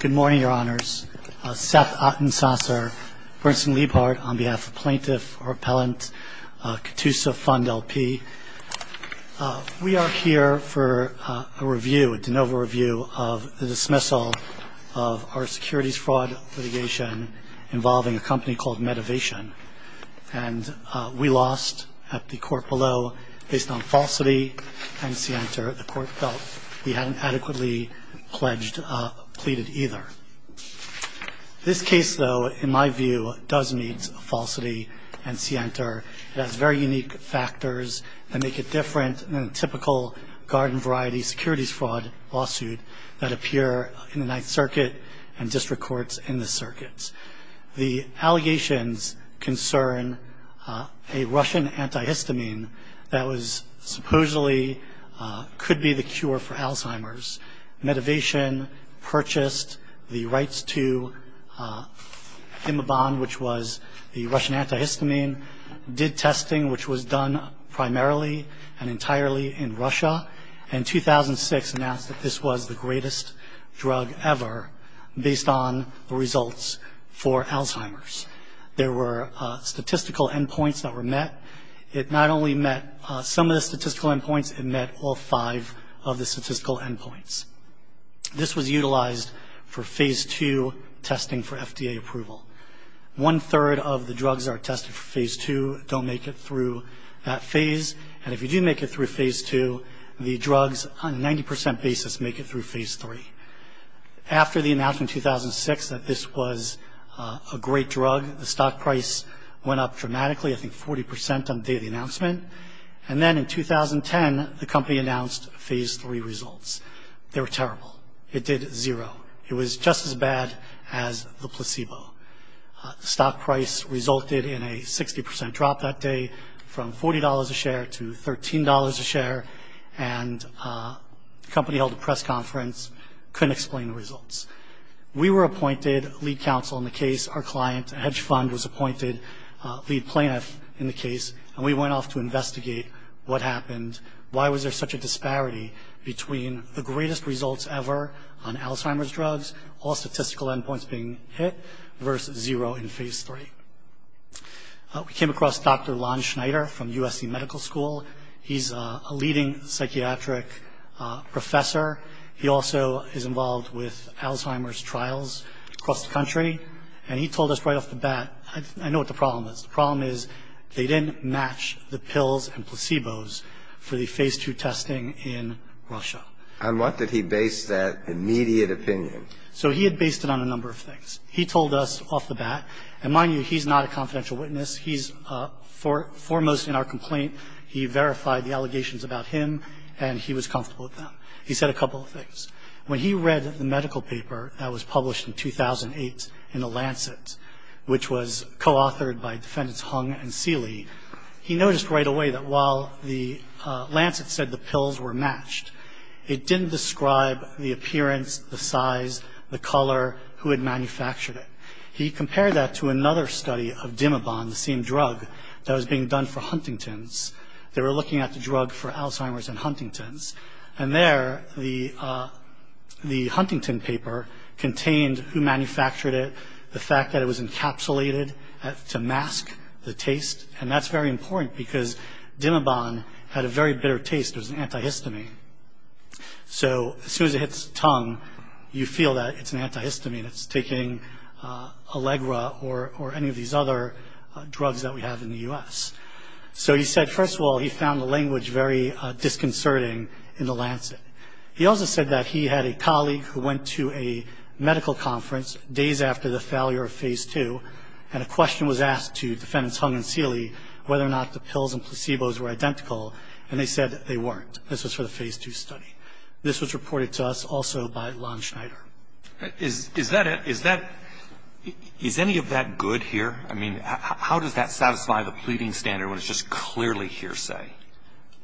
Good morning, Your Honors. Seth Atensasser, Bernstein Liebhardt on behalf of Plaintiff or Appellant, Catoosa Fund LP. We are here for a review, a de novo review of the dismissal of our securities fraud litigation involving a company called Medivation. And we lost at the court below based on falsity and scienter. The court felt we hadn't adequately pledged either. This case, though, in my view does meet falsity and scienter. It has very unique factors that make it different than a typical garden variety securities fraud lawsuit that appear in the Ninth Circuit and district courts in the circuits. The allegations concern a Russian antihistamine that was supposedly could be the cure for Alzheimer's. Medivation purchased the rights to Imabond, which was the Russian antihistamine, did testing, which was done primarily and entirely in Russia, and in 2006 announced that this was the greatest drug ever based on the results for Alzheimer's. There were statistical endpoints that were met. It not only met some of the statistical endpoints, it met all five of the statistical endpoints. This was utilized for Phase II testing for FDA approval. One-third of the drugs that are tested for Phase II don't make it through that phase. And if you do make it through Phase II, the drugs on a 90 percent basis make it through Phase III. After the announcement in 2006 that this was a great drug, the stock price went up dramatically, I think 40 percent on the day of the announcement. And then in 2010, the company announced Phase III results. They were terrible. It did zero. It was just as bad as the placebo. The stock price resulted in a 60 percent drop that day from $40 a share to $13 a share, and the company held a press conference, couldn't explain the results. We were appointed lead counsel in the case. Our client, Hedge Fund, was appointed lead plaintiff in the case, and we went off to investigate what happened, why was there such a disparity between the greatest results ever on Alzheimer's drugs, all statistical endpoints being hit, versus zero in Phase III. We came across Dr. Lon Schneider from USC Medical School. He's a leading psychiatric professor. He also is involved with Alzheimer's trials across the country, and he told us right off the bat, I know what the problem is. The problem is they didn't match the pills and placebos for the Phase II testing in Russia. And what did he base that immediate opinion? So he had based it on a number of things. He told us off the bat, and mind you, he's not a confidential witness. He's foremost in our complaint. He verified the allegations about him, and he was comfortable with them. He said a couple of things. When he read the was co-authored by Defendants Hung and Seeley, he noticed right away that while the Lancet said the pills were matched, it didn't describe the appearance, the size, the color, who had manufactured it. He compared that to another study of Dimabon, the same drug that was being done for Huntington's. They were looking at the drug for Alzheimer's in Huntington's, and there, the Huntington paper contained who manufactured it, the fact that it was encapsulated to mask the taste, and that's very important because Dimabon had a very bitter taste. It was an antihistamine. So as soon as it hits the tongue, you feel that it's an antihistamine. It's taking Allegra or any of these other drugs that we have in the U.S. So he said, first of all, he found the language very disconcerting in the Lancet. He also said that he had a colleague who went to a medical conference days after the failure of Phase II, and a question was asked to Defendants Hung and Seeley whether or not the pills and placebos were identical, and they said they weren't. This was for the Phase II study. This was reported to us also by Lon Schneider. Is that a – is that – is any of that good here? I mean, how does that satisfy the pleading standard when it's just clearly hearsay?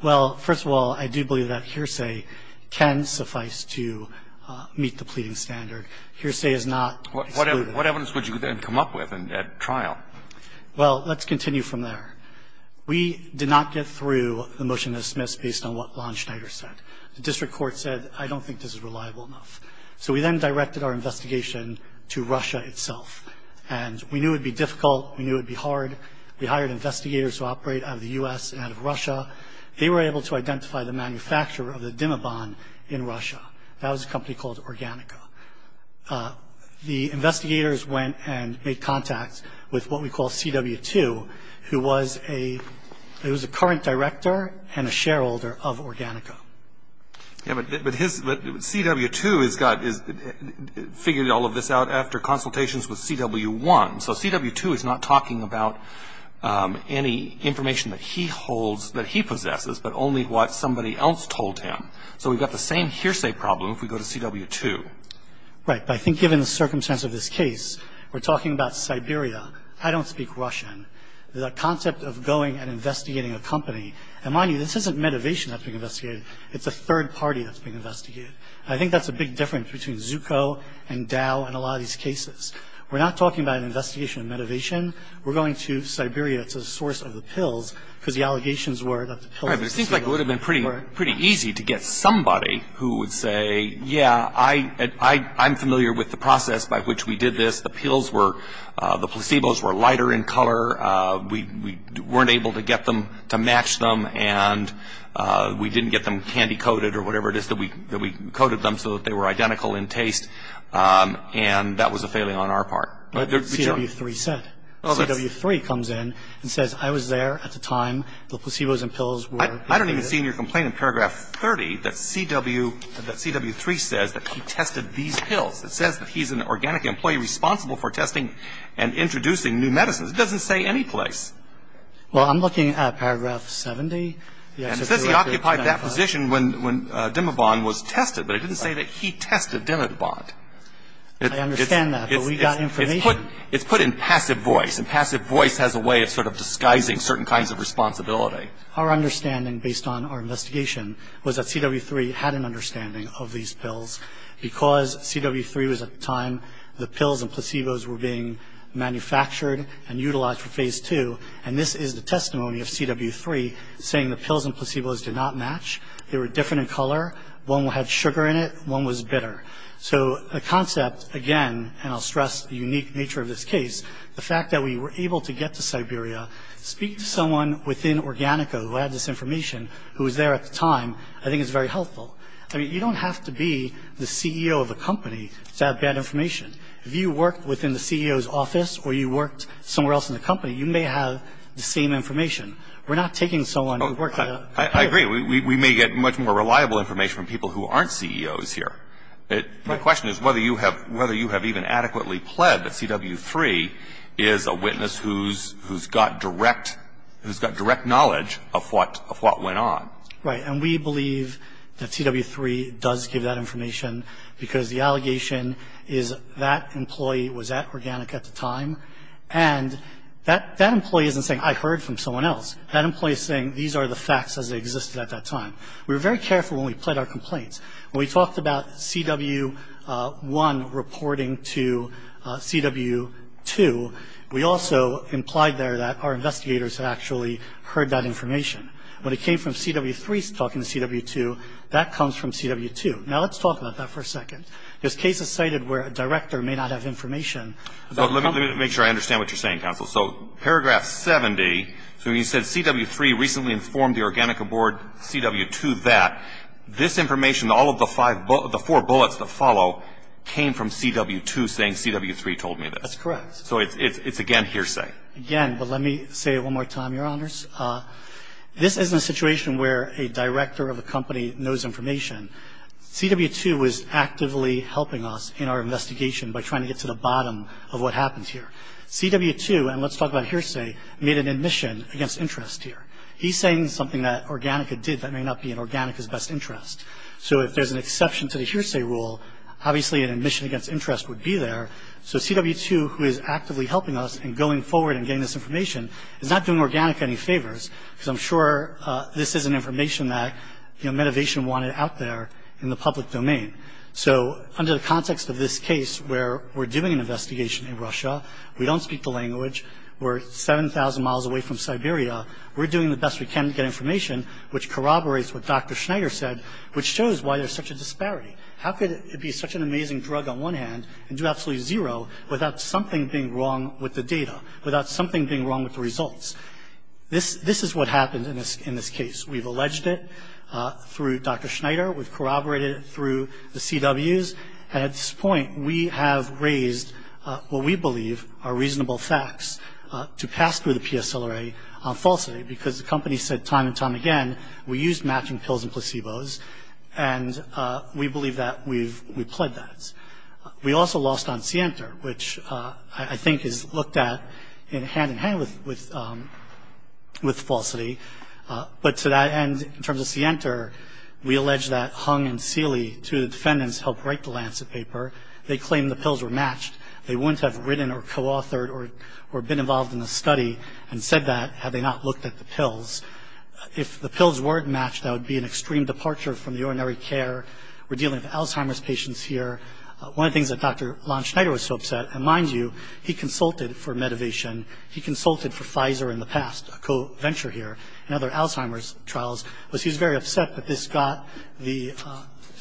Well, first of all, I do believe that hearsay can suffice to meet the pleading standard. Hearsay is not excluded. What evidence would you then come up with at trial? Well, let's continue from there. We did not get through the motion that was dismissed based on what Lon Schneider said. The district court said, I don't think this is reliable enough. So we then directed our investigation to Russia itself, and we knew it would be difficult. We knew it would be hard. We hired investigators who operate out of the U.S. and out of Russia. They were able to identify the manufacturer of the Dimabon in Russia. That was a company called Organica. The investigators went and made contact with what we call CW2, who was a – who was a current director and a shareholder of Organica. Yeah, but his – but CW2 has got – has figured all of this out after consultations with CW1. So CW2 is not talking about any information that he holds – that he possesses, but only what somebody else told him. So we've got the same hearsay problem if we go to CW2. Right. But I think given the circumstance of this case, we're talking about Siberia. I don't speak Russian. The concept of going and investigating a company – and mind you, this isn't Medivation that's being investigated. It's a third party that's being investigated. I think that's a big difference between Zucco and Dow and a lot of these cases. We're not talking about an investigation of Medivation. We're going to Siberia. It's a source of the pills, because the allegations were that the pills were – Right, but it seems like it would have been pretty – pretty easy to get somebody who would say, yeah, I'm familiar with the process by which we did this. The pills were – the we didn't get them candy-coated or whatever it is that we – that we coated them so that they were identical in taste, and that was a failing on our part. But CW3 said – CW3 comes in and says, I was there at the time the placebos and pills were – I don't even see in your complaint in paragraph 30 that CW – that CW3 says that he tested these pills. It says that he's an organic employee responsible for testing and introducing new medicines. It doesn't say anyplace. Well, I'm looking at paragraph 70. And it says he occupied that position when Dimabon was tested, but it didn't say that he tested Dimabon. I understand that, but we got information. It's put – it's put in passive voice, and passive voice has a way of sort of disguising certain kinds of responsibility. Our understanding, based on our investigation, was that CW3 had an understanding of these pills, because CW3 was at the time the pills and placebos were being manufactured and utilized for phase two. And this is the testimony of CW3 saying the pills and placebos did not match. They were different in color. One had sugar in it. One was bitter. So the concept, again – and I'll stress the unique nature of this case – the fact that we were able to get to Siberia, speak to someone within Organico who had this information, who was there at the time, I think is very helpful. I mean, you don't have to be the CEO of a company to have bad information. If you worked within the CEO's office or you worked somewhere else in the company, you may have the same information. We're not taking someone who worked at a – I agree. We may get much more reliable information from people who aren't CEOs here. Right. The question is whether you have – whether you have even adequately pled that CW3 is a witness who's got direct – who's got direct knowledge of what went on. Right. And we believe that CW3 does give that information because the allegation is that employee was at Organico at the time. And that employee isn't saying, I heard from someone else. That employee is saying these are the facts as they existed at that time. We were very careful when we pled our complaints. When we talked about CW1 reporting to CW2, we also implied there that our investigators had actually heard that information. When it came from CW3 talking to CW2, that comes from CW2. Now, let's talk about that for a second. There's cases cited where a director may not have information. Let me make sure I understand what you're saying, counsel. So paragraph 70, so you said CW3 recently informed the Organico board, CW2 that. This information, all of the five – the four bullets that follow came from CW2 saying CW3 told me this. That's correct. So it's again hearsay. Again, but let me say it one more time, Your Honors. This isn't a situation where a director of a company knows information. CW2 was actively helping us in our investigation by trying to get to the bottom of what happened here. CW2, and let's talk about hearsay, made an admission against interest here. He's saying something that Organico did that may not be in Organico's best interest. So if there's an exception to the hearsay rule, obviously an admission against interest would be there. So CW2, who is actively helping us in going forward and getting this information, is not doing Organico any favors because I'm sure this isn't information that Medivation wanted out there in the public domain. So under the context of this case where we're doing an investigation in Russia, we don't speak the language, we're 7,000 miles away from Siberia, we're doing the best we can to get information, which corroborates what Dr. Schneider said, which shows why there's such a disparity. How could it be such an amazing drug on one hand and do absolutely zero without something being wrong with the data, without something being wrong with the results? This is what happened in this case. We've alleged it through Dr. Schneider, we've corroborated it through the CWs, and at this point we have raised what we believe are reasonable facts to pass through the PSLRA on falsely because the company said time and time again we used matching pills and placebos, and we believe that we've pled that. We also lost on Sienter, which I think is looked at hand-in-hand with falsity. But to that end, in terms of Sienter, we allege that Hung and Seeley, two defendants, helped write the Lancet paper. They claimed the pills were matched. They wouldn't have written or co-authored or been involved in the study and said that had they not looked at the pills. If the pills weren't matched, that would be an extreme departure from urinary care. We're dealing with Alzheimer's patients here. One of the things that Dr. Lon Schneider was so upset, and mind you, he consulted for medivation, he consulted for Pfizer in the past, a co-venture here, and other Alzheimer's trials, was he was very upset that this got the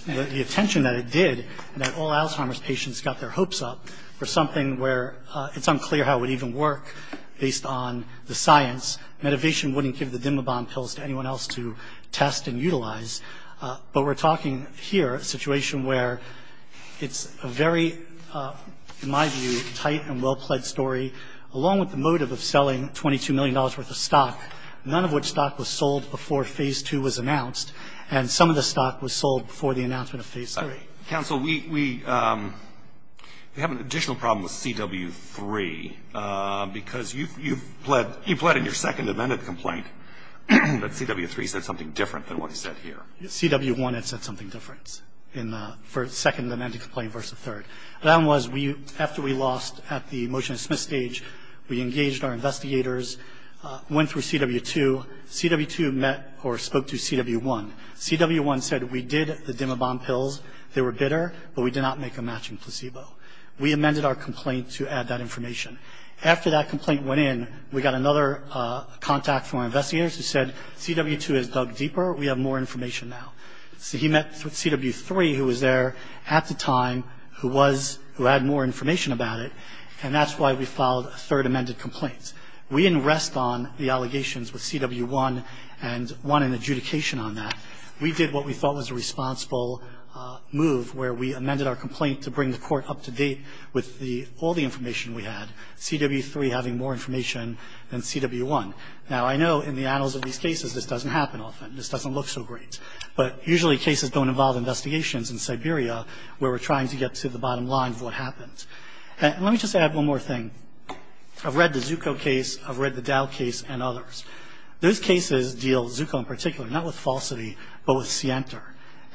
attention that it did, and that all Alzheimer's patients got their hopes up for something where it's unclear how it would even work based on the science. Medivation wouldn't give the Dimabon pills to anyone else to test and utilize. But we're talking here a situation where it's a very, in my view, tight and well-pled story, along with the motive of selling $22 million worth of stock, none of which stock was sold before Phase 2 was announced, and some of the stock was sold before the announcement of Phase 3. Counsel, we have an additional problem with CW3, because you've pledged in your second amended complaint that CW3 said something different than what he said here. CW1 had said something different in the second amended complaint versus the third. The problem was, after we lost at the motion to dismiss stage, we engaged our investigators, went through CW2. CW2 met or spoke to CW1. CW1 said, we did the Dimabon pills. They were bitter, but we did not make a matching placebo. We amended our complaint to add that information. After that complaint went in, we got another contact from our investigators who said, CW2 has dug deeper. We have more information now. He met with CW3, who was there at the time, who had more information about it, and that's why we filed a third amended complaint. We didn't rest on the allegations with CW1 and won an adjudication on that. We did what we thought was a responsible move, where we amended our complaint to bring the court up to date with all the information we had, CW3 having more information than CW1. Now, I know in the annals of these cases, this doesn't happen often. This doesn't look so great. But usually cases don't involve investigations in Siberia, where we're trying to get to the bottom line of what happened. Let me just add one more thing. I've read the Zucco case. I've read the Dow case and others. Those cases deal, Zucco in particular, not with falsity, but with scienter.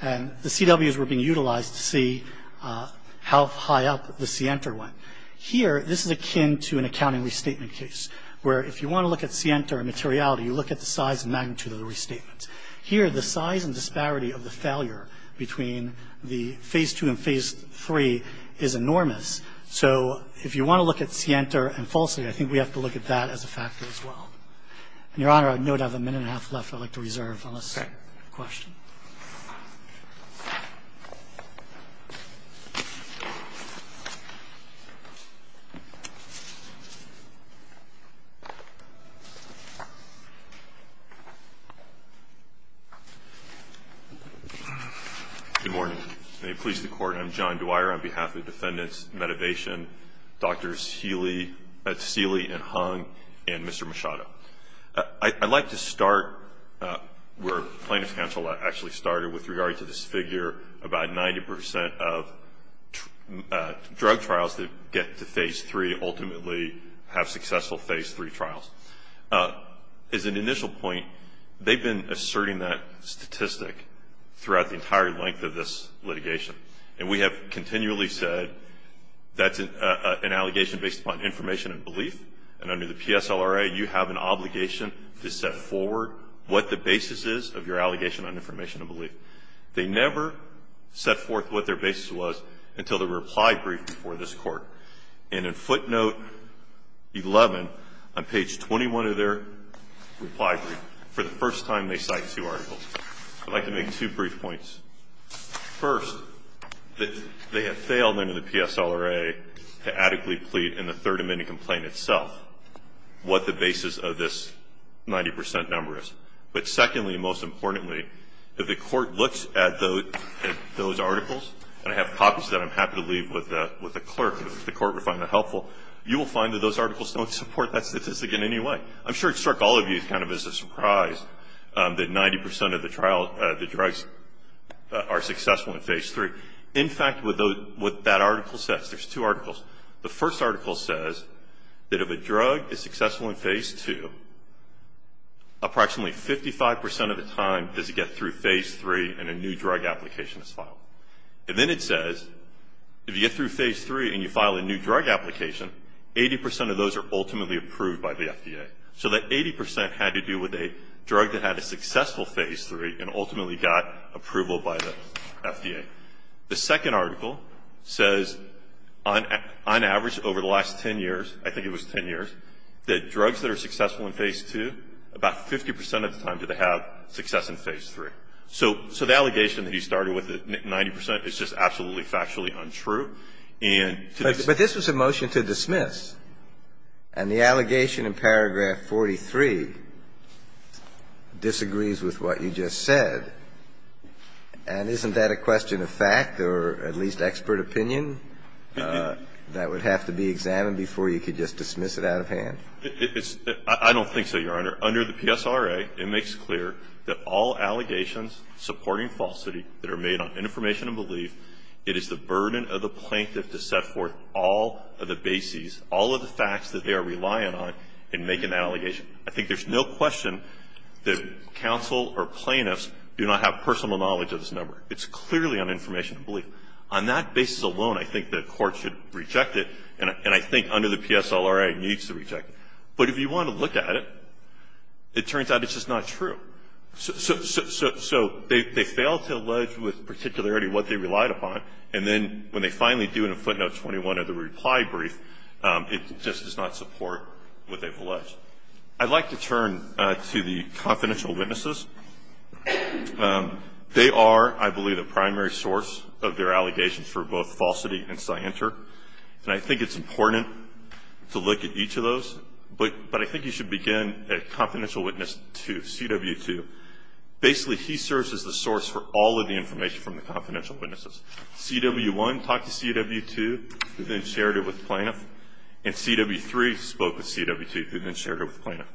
The CWs were being utilized to see how high up the scienter went. Here, this is akin to an accounting restatement case, where if you want to look at scienter and materiality, you look at the size and magnitude of the restatement. Here, the size and disparity of the failure between the Phase II and Phase III is enormous. So if you want to look at scienter and falsity, I think we have to look at that as a factor as well. And, Your Honor, I know we have a minute and a half left. I'd like to reserve unless you have a question. Okay. Good morning. May it please the Court. I'm John Dwyer on behalf of the defendants, Medivation, Drs. Seeley and Hung, and Mr. Machado. I'd like to start where plaintiff's counsel actually started with regard to this figure about 90 percent of drug trials that get to Phase III ultimately have successful Phase III trials. As an initial point, they've been asserting that statistic throughout the entire length of this litigation. And we have continually said that's an allegation based upon information and belief. And under the PSLRA, you have an obligation to set forward what the basis is of your allegation on information and belief. They never set forth what their basis was until the reply brief before this Court. And in footnote 11 on page 21 of their reply brief, for the first time they cite two articles. I'd like to make two brief points. First, they have failed under the PSLRA to adequately plead in the Third Amendment complaint itself what the basis of this 90 percent number is. But secondly and most importantly, if the Court looks at those articles, and I have copies of that I'm happy to leave with the clerk if the Court would find that helpful, you will find that those articles don't support that statistic in any way. I'm sure it struck all of you kind of as a surprise that 90 percent of the trials, the drugs are successful in Phase III. In fact, what that article says, there's two articles. The first article says that if a drug is successful in Phase II, approximately 55 percent of the time does it get through Phase III and a new drug application is filed. And then it says if you get through Phase III and you file a new drug application, 80 percent of those are ultimately approved by the FDA. So that 80 percent had to do with a drug that had a successful Phase III and ultimately got approval by the FDA. The second article says on average over the last 10 years, I think it was 10 years, that drugs that are successful in Phase II, about 50 percent of the time do they have success in Phase III. So the allegation that he started with the 90 percent is just absolutely factually untrue. And to this point, I think it's fair to say that it's not true. And I think it's fair to say that the allegation in Paragraph 43 disagrees with what you just said. And isn't that a question of fact or at least expert opinion that would have to be examined before you could just dismiss it out of hand? It's – I don't think so, Your Honor. Under the PSRA, it makes clear that all allegations and make an allegation. I think there's no question that counsel or plaintiffs do not have personal knowledge of this number. It's clearly an information belief. On that basis alone, I think the court should reject it. And I think under the PSLRA it needs to reject it. But if you want to look at it, it turns out it's just not true. So they fail to allege with particularity what they relied upon. And then when they finally do in a footnote 21 of the I'd like to turn to the confidential witnesses. They are, I believe, the primary source of their allegations for both falsity and scienter. And I think it's important to look at each of those. But I think you should begin at confidential witness 2, CW2. Basically, he serves as the source for all of the information from the confidential witnesses. CW1 talked to CW2, who then shared it with plaintiff. And CW3 spoke with CW2, who then shared it with plaintiff.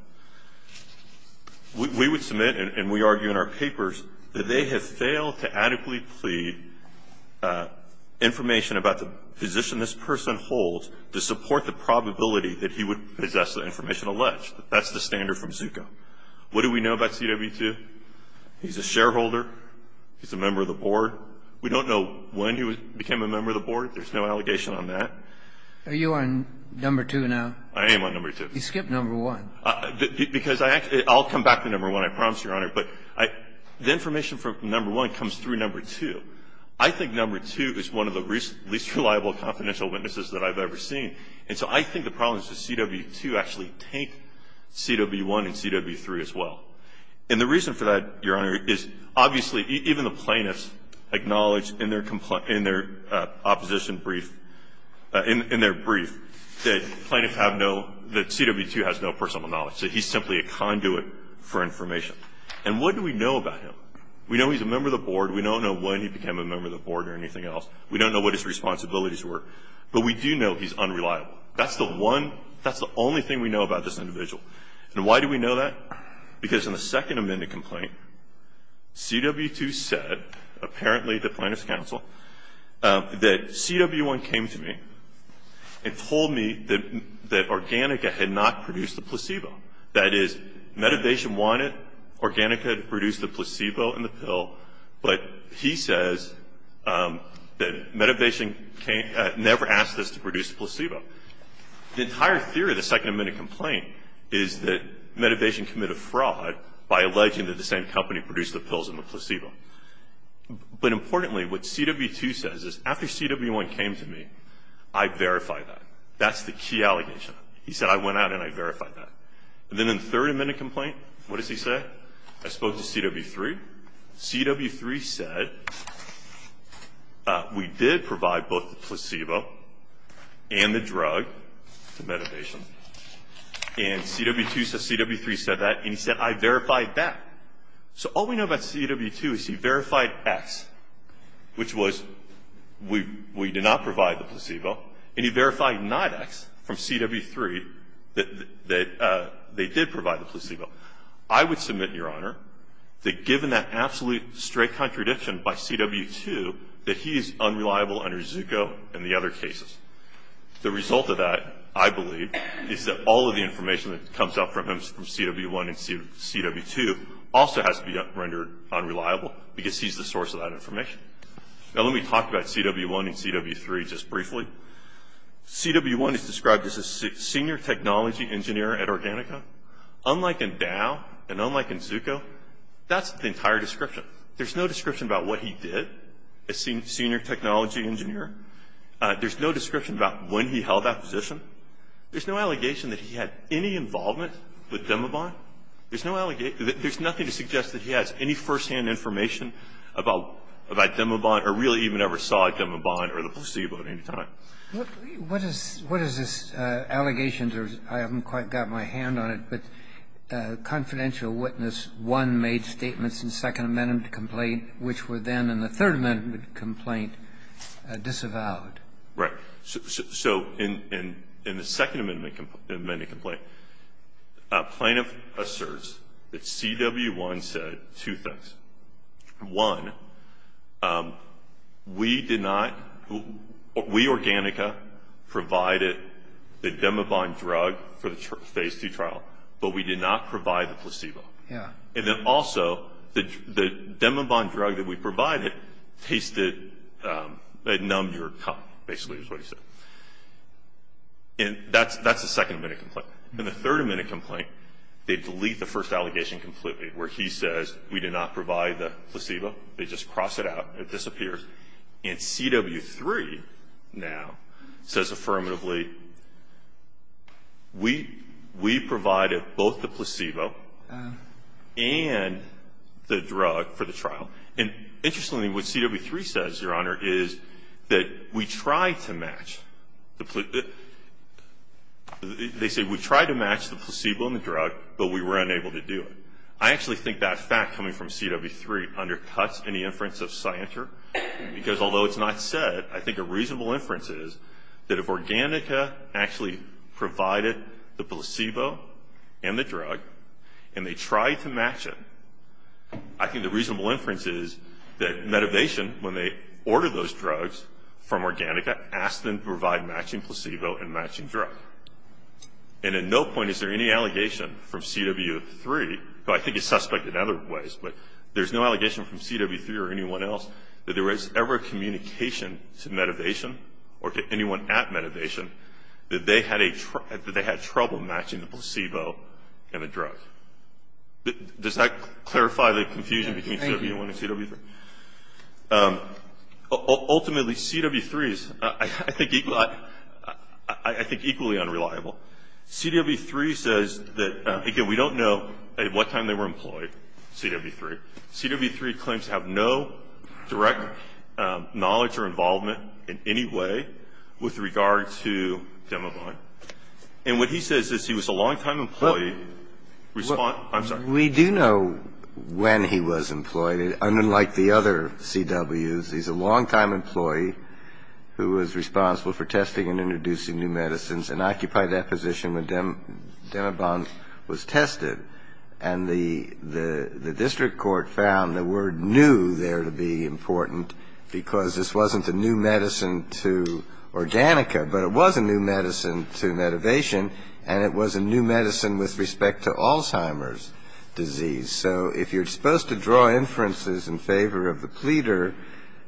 We would submit and we argue in our papers that they have failed to adequately plead information about the position this person holds to support the probability that he would possess the information alleged. That's the standard from Zucco. What do we know about CW2? He's a shareholder. He's a member of the board. We don't know when he became a member of the board. There's no allegation on that. Are you on number 2 now? I am on number 2. You skipped number 1. Because I'll come back to number 1, I promise, Your Honor. But the information from number 1 comes through number 2. I think number 2 is one of the least reliable confidential witnesses that I've ever seen. And so I think the problem is that CW2 actually take CW1 and CW3 as well. And the reason for that, Your Honor, is obviously even the plaintiffs acknowledge in their opposition brief, in their brief, that plaintiffs have no, that CW2 has no personal knowledge. So he's simply a conduit for information. And what do we know about him? We know he's a member of the board. We don't know when he became a member of the board or anything else. We don't know what his responsibilities were. But we do know he's unreliable. That's the one, that's the only thing we know about this individual. And why do we know that? Because in the second amended complaint, CW2 said, apparently the plaintiff's counsel, that CW1 came to me and told me that Organica had not produced the placebo. That is, Medivation wanted Organica to produce the placebo and the pill, but he says that Medivation never asked us to produce the pill. The second amended complaint is that Medivation committed fraud by alleging that the same company produced the pills and the placebo. But importantly, what CW2 says is, after CW1 came to me, I verified that. That's the key allegation. He said, I went out and I verified that. And then in the third amended complaint, what does he say? I spoke to CW3. CW3 said, we did provide both the placebo and the drug to Medivation. And the third amended complaint is that CW2 said that, and CW2 said CW3 said that, and he said, I verified that. So all we know about CW2 is he verified X, which was we did not provide the placebo, and he verified not X from CW3 that they did provide the placebo. I would submit, Your Honor, that given that absolute straight contradiction by CW2, that he is unreliable under Zucco and the other cases. The result of that, I believe, is that all of the information that comes out from him, from CW1 and CW2, also has to be rendered unreliable, because he's the source of that information. Now, let me talk about CW1 and CW3 just briefly. CW1 is described as a senior technology engineer at Organica. Unlike in Dow and unlike in Zucco, that's the entire description. There's no description about what he did, a senior technology engineer. There's no description about when he held that position. There's no allegation that he had any involvement with Demobond. There's no allegation that he has any first-hand information about Demobond or really even ever saw a Demobond or the placebo at any time. Kennedy. What is this allegation? I haven't quite got my hand on it, but confidential witness 1 made statements in Second Amendment complaint, which were then in the Third Amendment complaint. And he was avowed. Right. So in the Second Amendment complaint, plaintiff asserts that CW1 said two things. One, we did not, we, Organica, provided the Demobond drug for the Phase 2 trial, but we did not provide the placebo. Yeah. And then also, the Demobond drug that we provided tasted, it numbed your cup, basically is what he said. And that's the Second Amendment complaint. In the Third Amendment complaint, they delete the first allegation completely where he says we did not provide the placebo. They just cross it out. It disappears. And CW3 now says affirmatively, we, we provided both the placebo and the drug for the trial. And interestingly, what CW3 says, Your Honor, is that we tried to match the, they say we tried to match the placebo and the drug, but we were unable to do it. I actually think that fact coming from CW3 undercuts any inference of Scienture, because although it's not said, I think a reasonable inference is that if Organica actually provided the placebo and the drug, and they tried to match it, I think the reasonable inference is that Medivation, when they ordered those drugs from Organica, asked them to provide matching placebo and matching drug. And at no point is there any allegation from CW3, who I think is suspect in other ways, but there's no allegation from CW3 or anyone else that there was ever a communication to Medivation or to anyone at Medivation that they had trouble matching the placebo and the drug. Does that clarify the confusion between CW1 and CW3? Ultimately, CW3 is, I think, equally unreliable. CW3 says that, again, we don't know at what time they were employed, CW3. CW3 claims to have no direct knowledge or involvement in any way with regard to Demavon. And what he says is he was a longtime employee. Respond. I'm sorry. We do know when he was employed. Unlike the other CWs, he's a longtime employee who was responsible for testing and introducing new medicines and occupied that position when Demavon was tested. And the district court found the word new there to be important because this wasn't a new medicine to Organica, but it was a new medicine to Medivation, and it was a new So if you're supposed to draw inferences in favor of the pleader,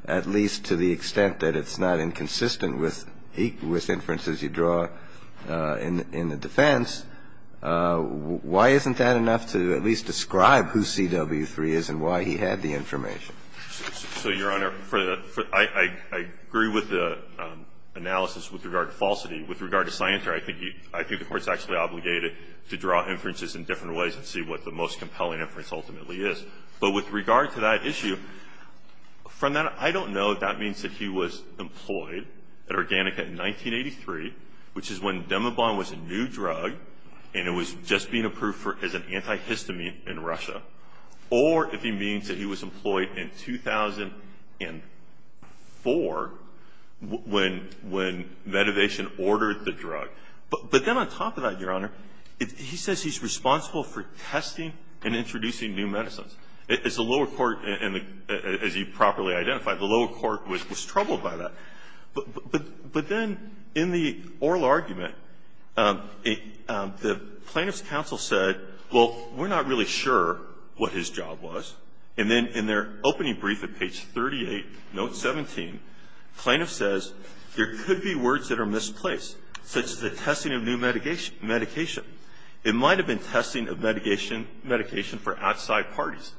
at least to the extent that it's not inconsistent with inferences you draw in the defense, why isn't that enough to at least describe who CW3 is and why he had the information? So, Your Honor, I agree with the analysis with regard to falsity. With regard to Scienter, I think the Court's actually obligated to draw inferences in different ways and see what the most compelling inference ultimately is. But with regard to that issue, from that, I don't know if that means that he was employed at Organica in 1983, which is when Demavon was a new drug and it was just being approved as an antihistamine in Russia, or if he means that he was employed in 2004 when Medivation ordered the drug. But then on top of that, Your Honor, he says he's responsible for testing and introducing new medicines. As the lower court, as you properly identified, the lower court was troubled by that. But then in the oral argument, the plaintiff's counsel said, well, we're not really sure what his job was. And then in their opening brief at page 38, note 17, plaintiff says, there could be words that are misplaced, such as the testing of new medication. It might have been testing of medication for outside parties.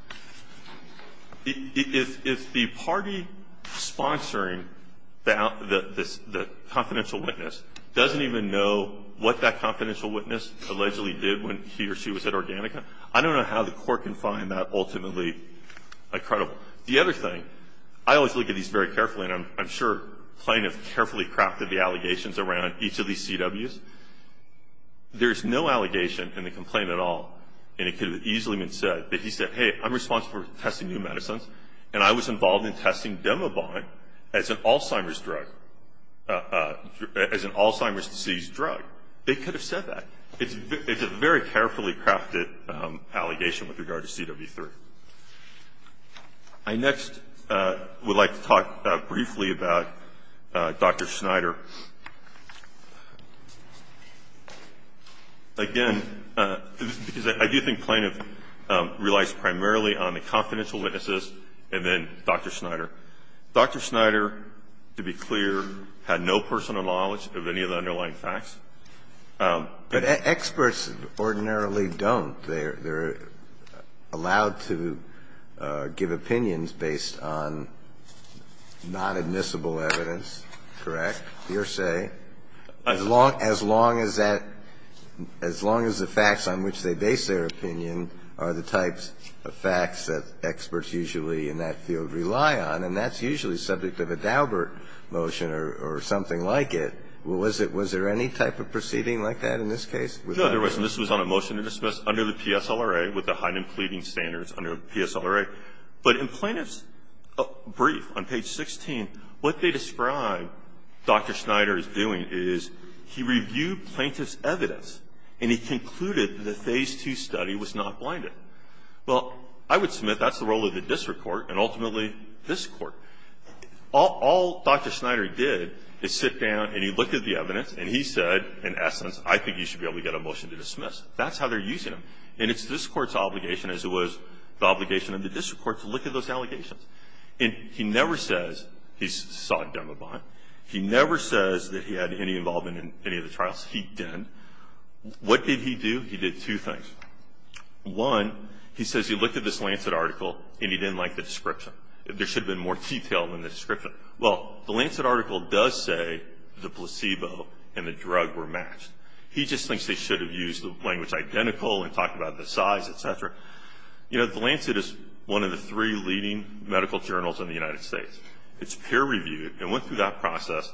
If the party sponsoring the confidential witness doesn't even know what that confidential witness allegedly did when he or she was at Organica, I don't know how the Court can find that ultimately credible. The other thing, I always look at these very carefully, and I'm sure plaintiff carefully crafted the allegations around each of these CWs. There's no allegation in the complaint at all, and it could have easily been said that he said, hey, I'm responsible for testing new medicines, and I was involved in testing Demavon as an Alzheimer's drug, as an Alzheimer's disease drug. They could have said that. It's a very carefully crafted allegation with regard to CW3. I next would like to talk briefly about Dr. Snyder. Again, because I do think plaintiff relies primarily on the confidential witnesses and then Dr. Snyder. Dr. Snyder, to be clear, had no personal knowledge of any of the underlying facts. But experts ordinarily don't. They're allowed to give opinions based on non-admissible evidence, correct, hearsay, as long as that as long as the facts on which they base their opinion are the types of facts that experts usually in that field rely on, and that's usually the subject of a Daubert motion or something like it. Was there any type of proceeding like that in this case? No, there wasn't. This was on a motion to dismiss under the PSLRA with the Heinem pleading standards under the PSLRA. But in plaintiff's brief on page 16, what they describe Dr. Snyder is doing is he reviewed plaintiff's evidence, and he concluded that the Phase II study was not blinded. Well, I would submit that's the role of the district court and ultimately this Court. All Dr. Snyder did is sit down and he looked at the evidence and he said, in essence, I think you should be able to get a motion to dismiss. That's how they're using him. And it's this Court's obligation, as it was the obligation of the district court, to look at those allegations. And he never says he saw a demo bond. He never says that he had any involvement in any of the trials. He didn't. What did he do? He did two things. One, he says he looked at this Lancet article and he didn't like the description. There should have been more detail in the description. Well, the Lancet article does say the placebo and the drug were matched. He just thinks they should have used the language identical and talked about the size, et cetera. You know, the Lancet is one of the three leading medical journals in the United States. It's peer-reviewed. It went through that process.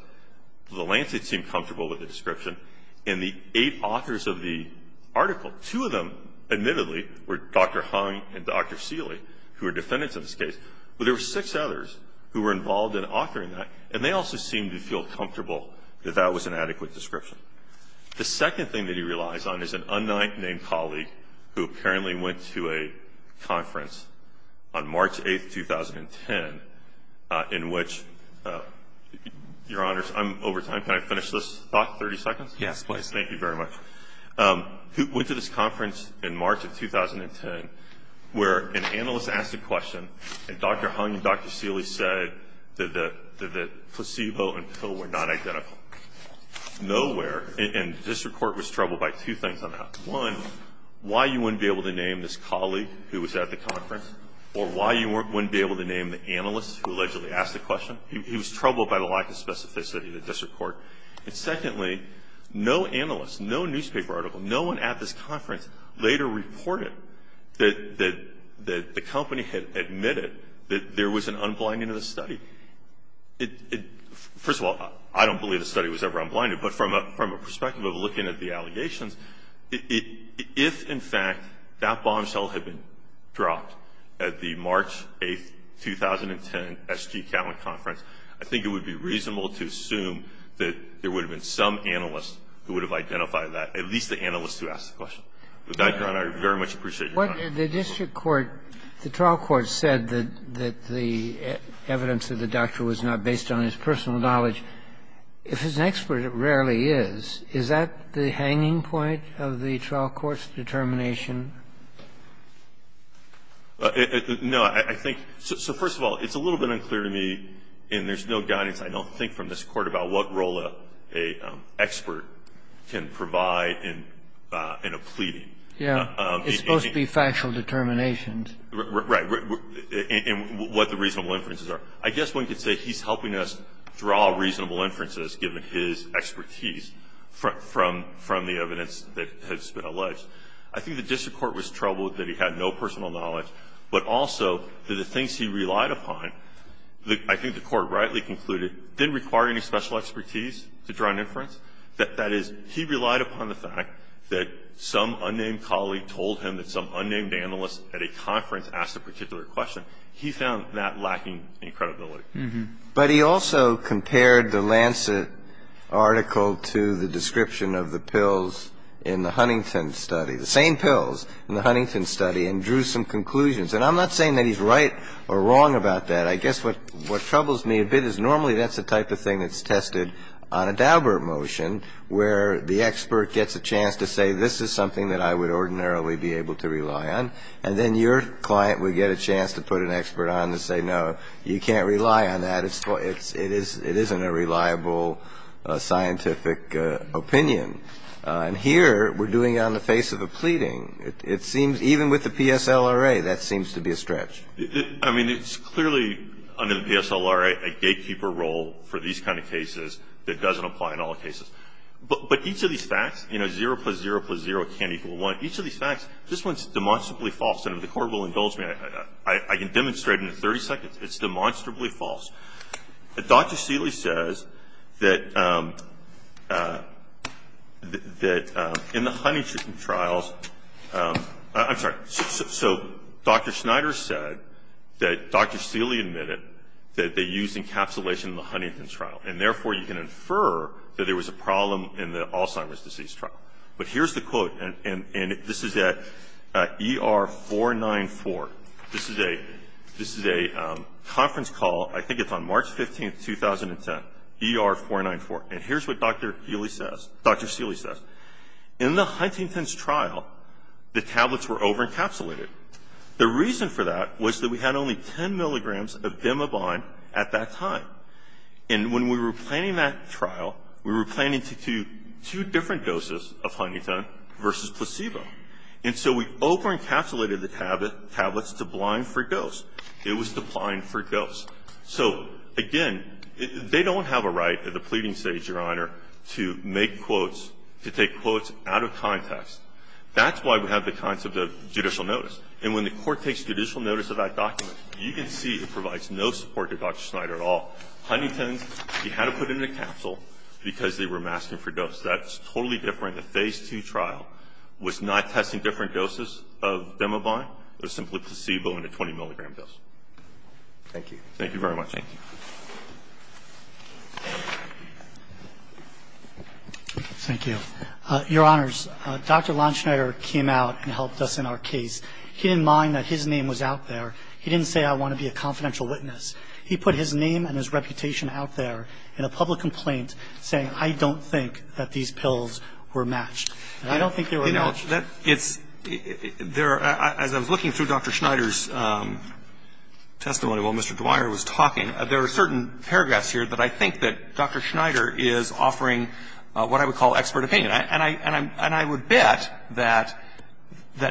The Lancet seemed comfortable with the description. And the eight authors of the article, two of them, admittedly, were Dr. Hung and Dr. Seeley, who are defendants in this case. But there were six others who were involved in authoring that. And they also seemed to feel comfortable that that was an adequate description. The second thing that he relies on is an unnamed colleague who apparently went to a conference on March 8, 2010, in which, Your Honors, I'm over time. Can I finish this thought, 30 seconds? Yes, please. Thank you very much. Who went to this conference in March of 2010, where an analyst asked a question, and Dr. Hung and Dr. Seeley said that the placebo and pill were not identical. Nowhere, and district court was troubled by two things on that. One, why you wouldn't be able to name this colleague who was at the conference, or why you wouldn't be able to name the analyst who allegedly asked the question. He was troubled by the lack of specificity of the district court. And secondly, no analyst, no newspaper article, no one at this conference, later reported that the company had admitted that there was an unblinding of the study. First of all, I don't believe the study was ever unblinded. But from a perspective of looking at the allegations, if, in fact, that bombshell had been dropped at the March 8, 2010, S.G. Catlin conference, I think it would be reasonable to assume that there would have been some analyst who would have identified that, at least the analyst who asked the question. With that, Your Honor, I very much appreciate your time. The district court, the trial court said that the evidence of the doctor was not based on his personal knowledge. If he's an expert, it rarely is. Is that the hanging point of the trial court's determination? No. I think so. First of all, it's a little bit unclear to me, and there's no guidance, I don't think, from this Court about what role an expert can provide in a plea. Yeah. It's supposed to be factual determinations. Right. And what the reasonable inferences are. I guess one could say he's helping us draw reasonable inferences, given his expertise from the evidence that has been alleged. I think the district court was troubled that he had no personal knowledge, but also that the things he relied upon, I think the Court rightly concluded, didn't require any special expertise to draw an inference. That is, he relied upon the fact that some unnamed colleague told him that some unnamed analyst at a conference asked a particular question. He found that lacking in credibility. But he also compared the Lancet article to the description of the pills in the Huntington study, the same pills in the Huntington study, and drew some conclusions. And I'm not saying that he's right or wrong about that. I guess what troubles me a bit is normally that's the type of thing that's tested on a Daubert motion, where the expert gets a chance to say, And then your client would get a chance to put an expert on and say, No, you can't rely on that. It isn't a reliable scientific opinion. And here we're doing it on the face of a pleading. It seems, even with the PSLRA, that seems to be a stretch. I mean, it's clearly under the PSLRA a gatekeeper role for these kind of cases that doesn't apply in all cases. But each of these facts, you know, 0 plus 0 plus 0 can't equal 1, each of these facts, this one's demonstrably false. And if the Court will indulge me, I can demonstrate in 30 seconds, it's demonstrably false. Dr. Seeley says that in the Huntington trials, I'm sorry. So Dr. Schneider said that Dr. Seeley admitted that they used encapsulation in the Huntington trial, and therefore you can infer that there was a problem in the Alzheimer's disease trial. But here's the quote, and this is at ER 494. This is a conference call. I think it's on March 15, 2010, ER 494. And here's what Dr. Seeley says. In the Huntington's trial, the tablets were over-encapsulated. The reason for that was that we had only 10 milligrams of bimbobine at that time. And when we were planning that trial, we were planning to do two different doses of Huntington versus placebo. And so we over-encapsulated the tablets to blind for ghosts. It was to blind for ghosts. So, again, they don't have a right at the pleading stage, Your Honor, to make quotes to take quotes out of context. That's why we have the concept of judicial notice. And when the Court takes judicial notice of that document, you can see it provides no support to Dr. Schneider at all. Huntington's, you had to put it in a capsule because they were masking for ghosts. That's totally different. The Phase II trial was not testing different doses of bimbobine. It was simply placebo and a 20-milligram dose. Thank you. Thank you very much. Thank you. Thank you. Your Honors, Dr. Lonschneider came out and helped us in our case. He didn't mind that his name was out there. He didn't say, I want to be a confidential witness. He put his name and his reputation out there in a public complaint saying, I don't think that these pills were matched. And I don't think they were matched. You know, it's – there – as I was looking through Dr. Schneider's testimony while Mr. Dwyer was talking, there are certain paragraphs here that I think that Dr. Schneider is offering what I would call expert opinion. And I would bet that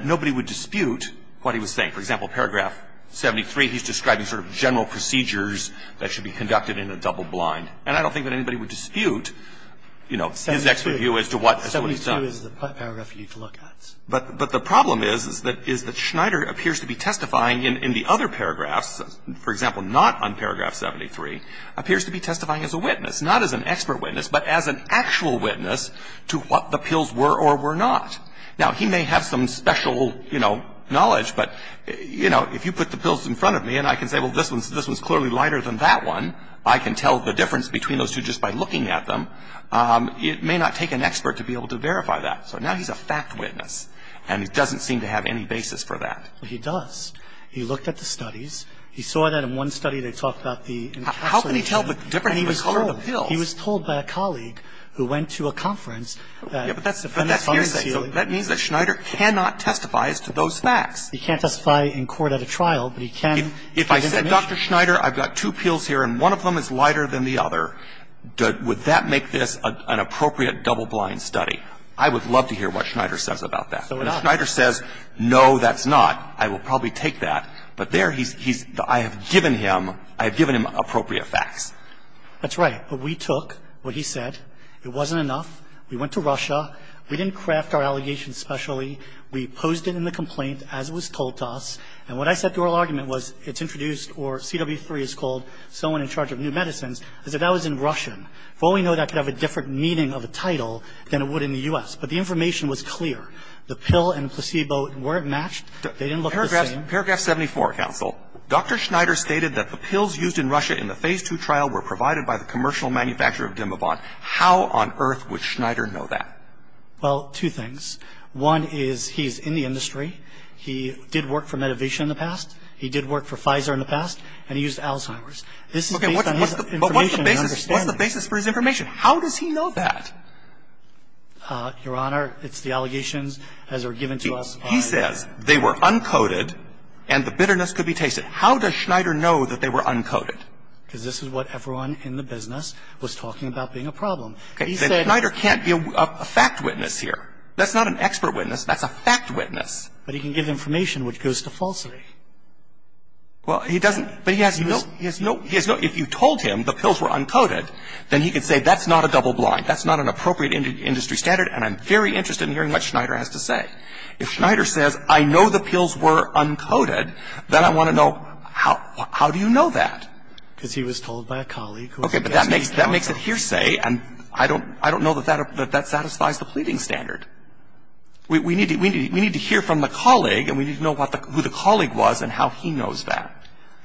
nobody would dispute what he was saying. For example, paragraph 73, he's describing sort of general procedures that should be conducted in a double blind. And I don't think that anybody would dispute, you know, his expert view as to what was done. Seventy-two is the paragraph you'd look at. But the problem is that Schneider appears to be testifying in the other paragraphs, for example, not on paragraph 73, appears to be testifying as a witness, not as an expert witness, but as an actual witness to what the pills were or were not. Now, he may have some special, you know, knowledge. But, you know, if you put the pills in front of me and I can say, well, this one's clearly lighter than that one, I can tell the difference between those two just by looking at them. It may not take an expert to be able to verify that. So now he's a fact witness. And he doesn't seem to have any basis for that. But he does. He looked at the studies. He saw that in one study they talked about the encapsulation. How can he tell the difference in the color of the pills? And he was told. He was told by a colleague who went to a conference that – But that's hearsay. That means that Schneider cannot testify as to those facts. He can't testify in court at a trial, but he can give information. If I said, Dr. Schneider, I've got two pills here and one of them is lighter than the other, would that make this an appropriate double-blind study? I would love to hear what Schneider says about that. If Schneider says, no, that's not, I will probably take that. But there he's – I have given him – I have given him appropriate facts. That's right. But we took what he said. It wasn't enough. We went to Russia. We didn't craft our allegations specially. We posed it in the complaint as it was told to us. And what I said to oral argument was it's introduced, or CW3 is called, someone in charge of new medicines. I said that was in Russian. For all we know, that could have a different meaning of a title than it would in the U.S. But the information was clear. The pill and placebo weren't matched. They didn't look the same. Paragraph 74, counsel. Dr. Schneider stated that the pills used in Russia in the Phase II trial were provided by the commercial manufacturer of Dimavon. How on earth would Schneider know that? Well, two things. One is he's in the industry. He did work for Medivision in the past. He did work for Pfizer in the past. And he used Alzheimer's. This is based on his information and understanding. Okay. But what's the basis? What's the basis for his information? How does he know that? Your Honor, it's the allegations as are given to us. He says they were uncoded and the bitterness could be tasted. How does Schneider know that they were uncoded? Because this is what everyone in the business was talking about being a problem. Schneider can't be a fact witness here. That's not an expert witness. That's a fact witness. But he can give information which goes to falsity. Well, he doesn't. But he has no – he has no – he has no – if you told him the pills were uncoded, then he could say that's not a double blind. That's not an appropriate industry standard, and I'm very interested in hearing what Schneider has to say. If Schneider says, I know the pills were uncoded, then I want to know how – how do you know that? Because he was told by a colleague. But that makes – that makes it hearsay, and I don't – I don't know that that satisfies the pleading standard. We need to – we need to hear from the colleague, and we need to know what the – who the colleague was and how he knows that.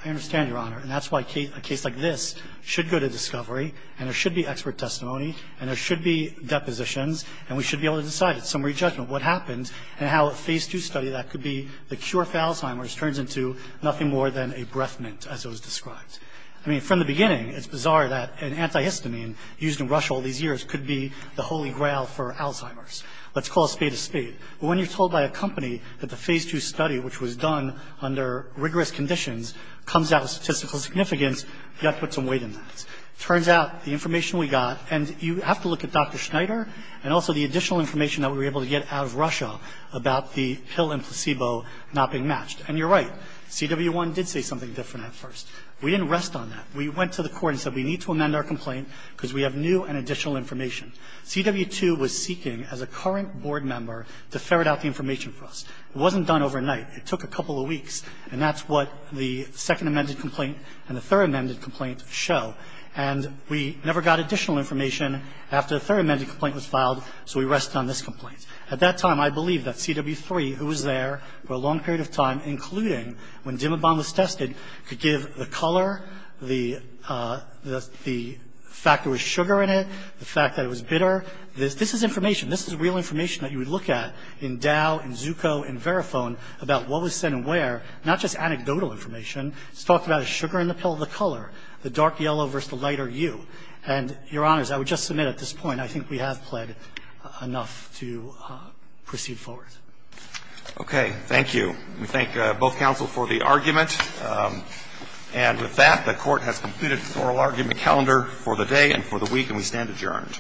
I understand, Your Honor. And that's why a case like this should go to discovery, and there should be expert testimony, and there should be depositions, and we should be able to decide at summary judgment what happens and how a Phase II study that could be the cure for Alzheimer's turns into nothing more than a breath mint, as it was described. I mean, from the beginning, it's bizarre that an antihistamine used in Russia all these years could be the holy grail for Alzheimer's. Let's call a spade a spade. But when you're told by a company that the Phase II study, which was done under rigorous conditions, comes out with statistical significance, you have to put some weight in that. It turns out the information we got – and you have to look at Dr. Schneider and also the additional information that we were able to get out of Russia about the pill and placebo not being matched. And you're right. CW1 did say something different at first. We didn't rest on that. We went to the court and said we need to amend our complaint because we have new and additional information. CW2 was seeking, as a current board member, to ferret out the information for us. It wasn't done overnight. It took a couple of weeks, and that's what the second amended complaint and the third amended complaint show. And we never got additional information after the third amended complaint was filed, so we rested on this complaint. At that time, I believe that CW3, who was there for a long period of time, including when Dimabon was tested, could give the color, the fact there was sugar in it, the fact that it was bitter. This is information. This is real information that you would look at in Dow and Zucco and Verifone about what was said and where, not just anecdotal information. It's talked about a sugar in the pill, the color, the dark yellow versus the lighter hue. And, Your Honors, I would just submit at this point I think we have pled enough to proceed forward. Okay. Thank you. We thank both counsel for the argument. And with that, the Court has completed the oral argument calendar for the day and for the week, and we stand adjourned.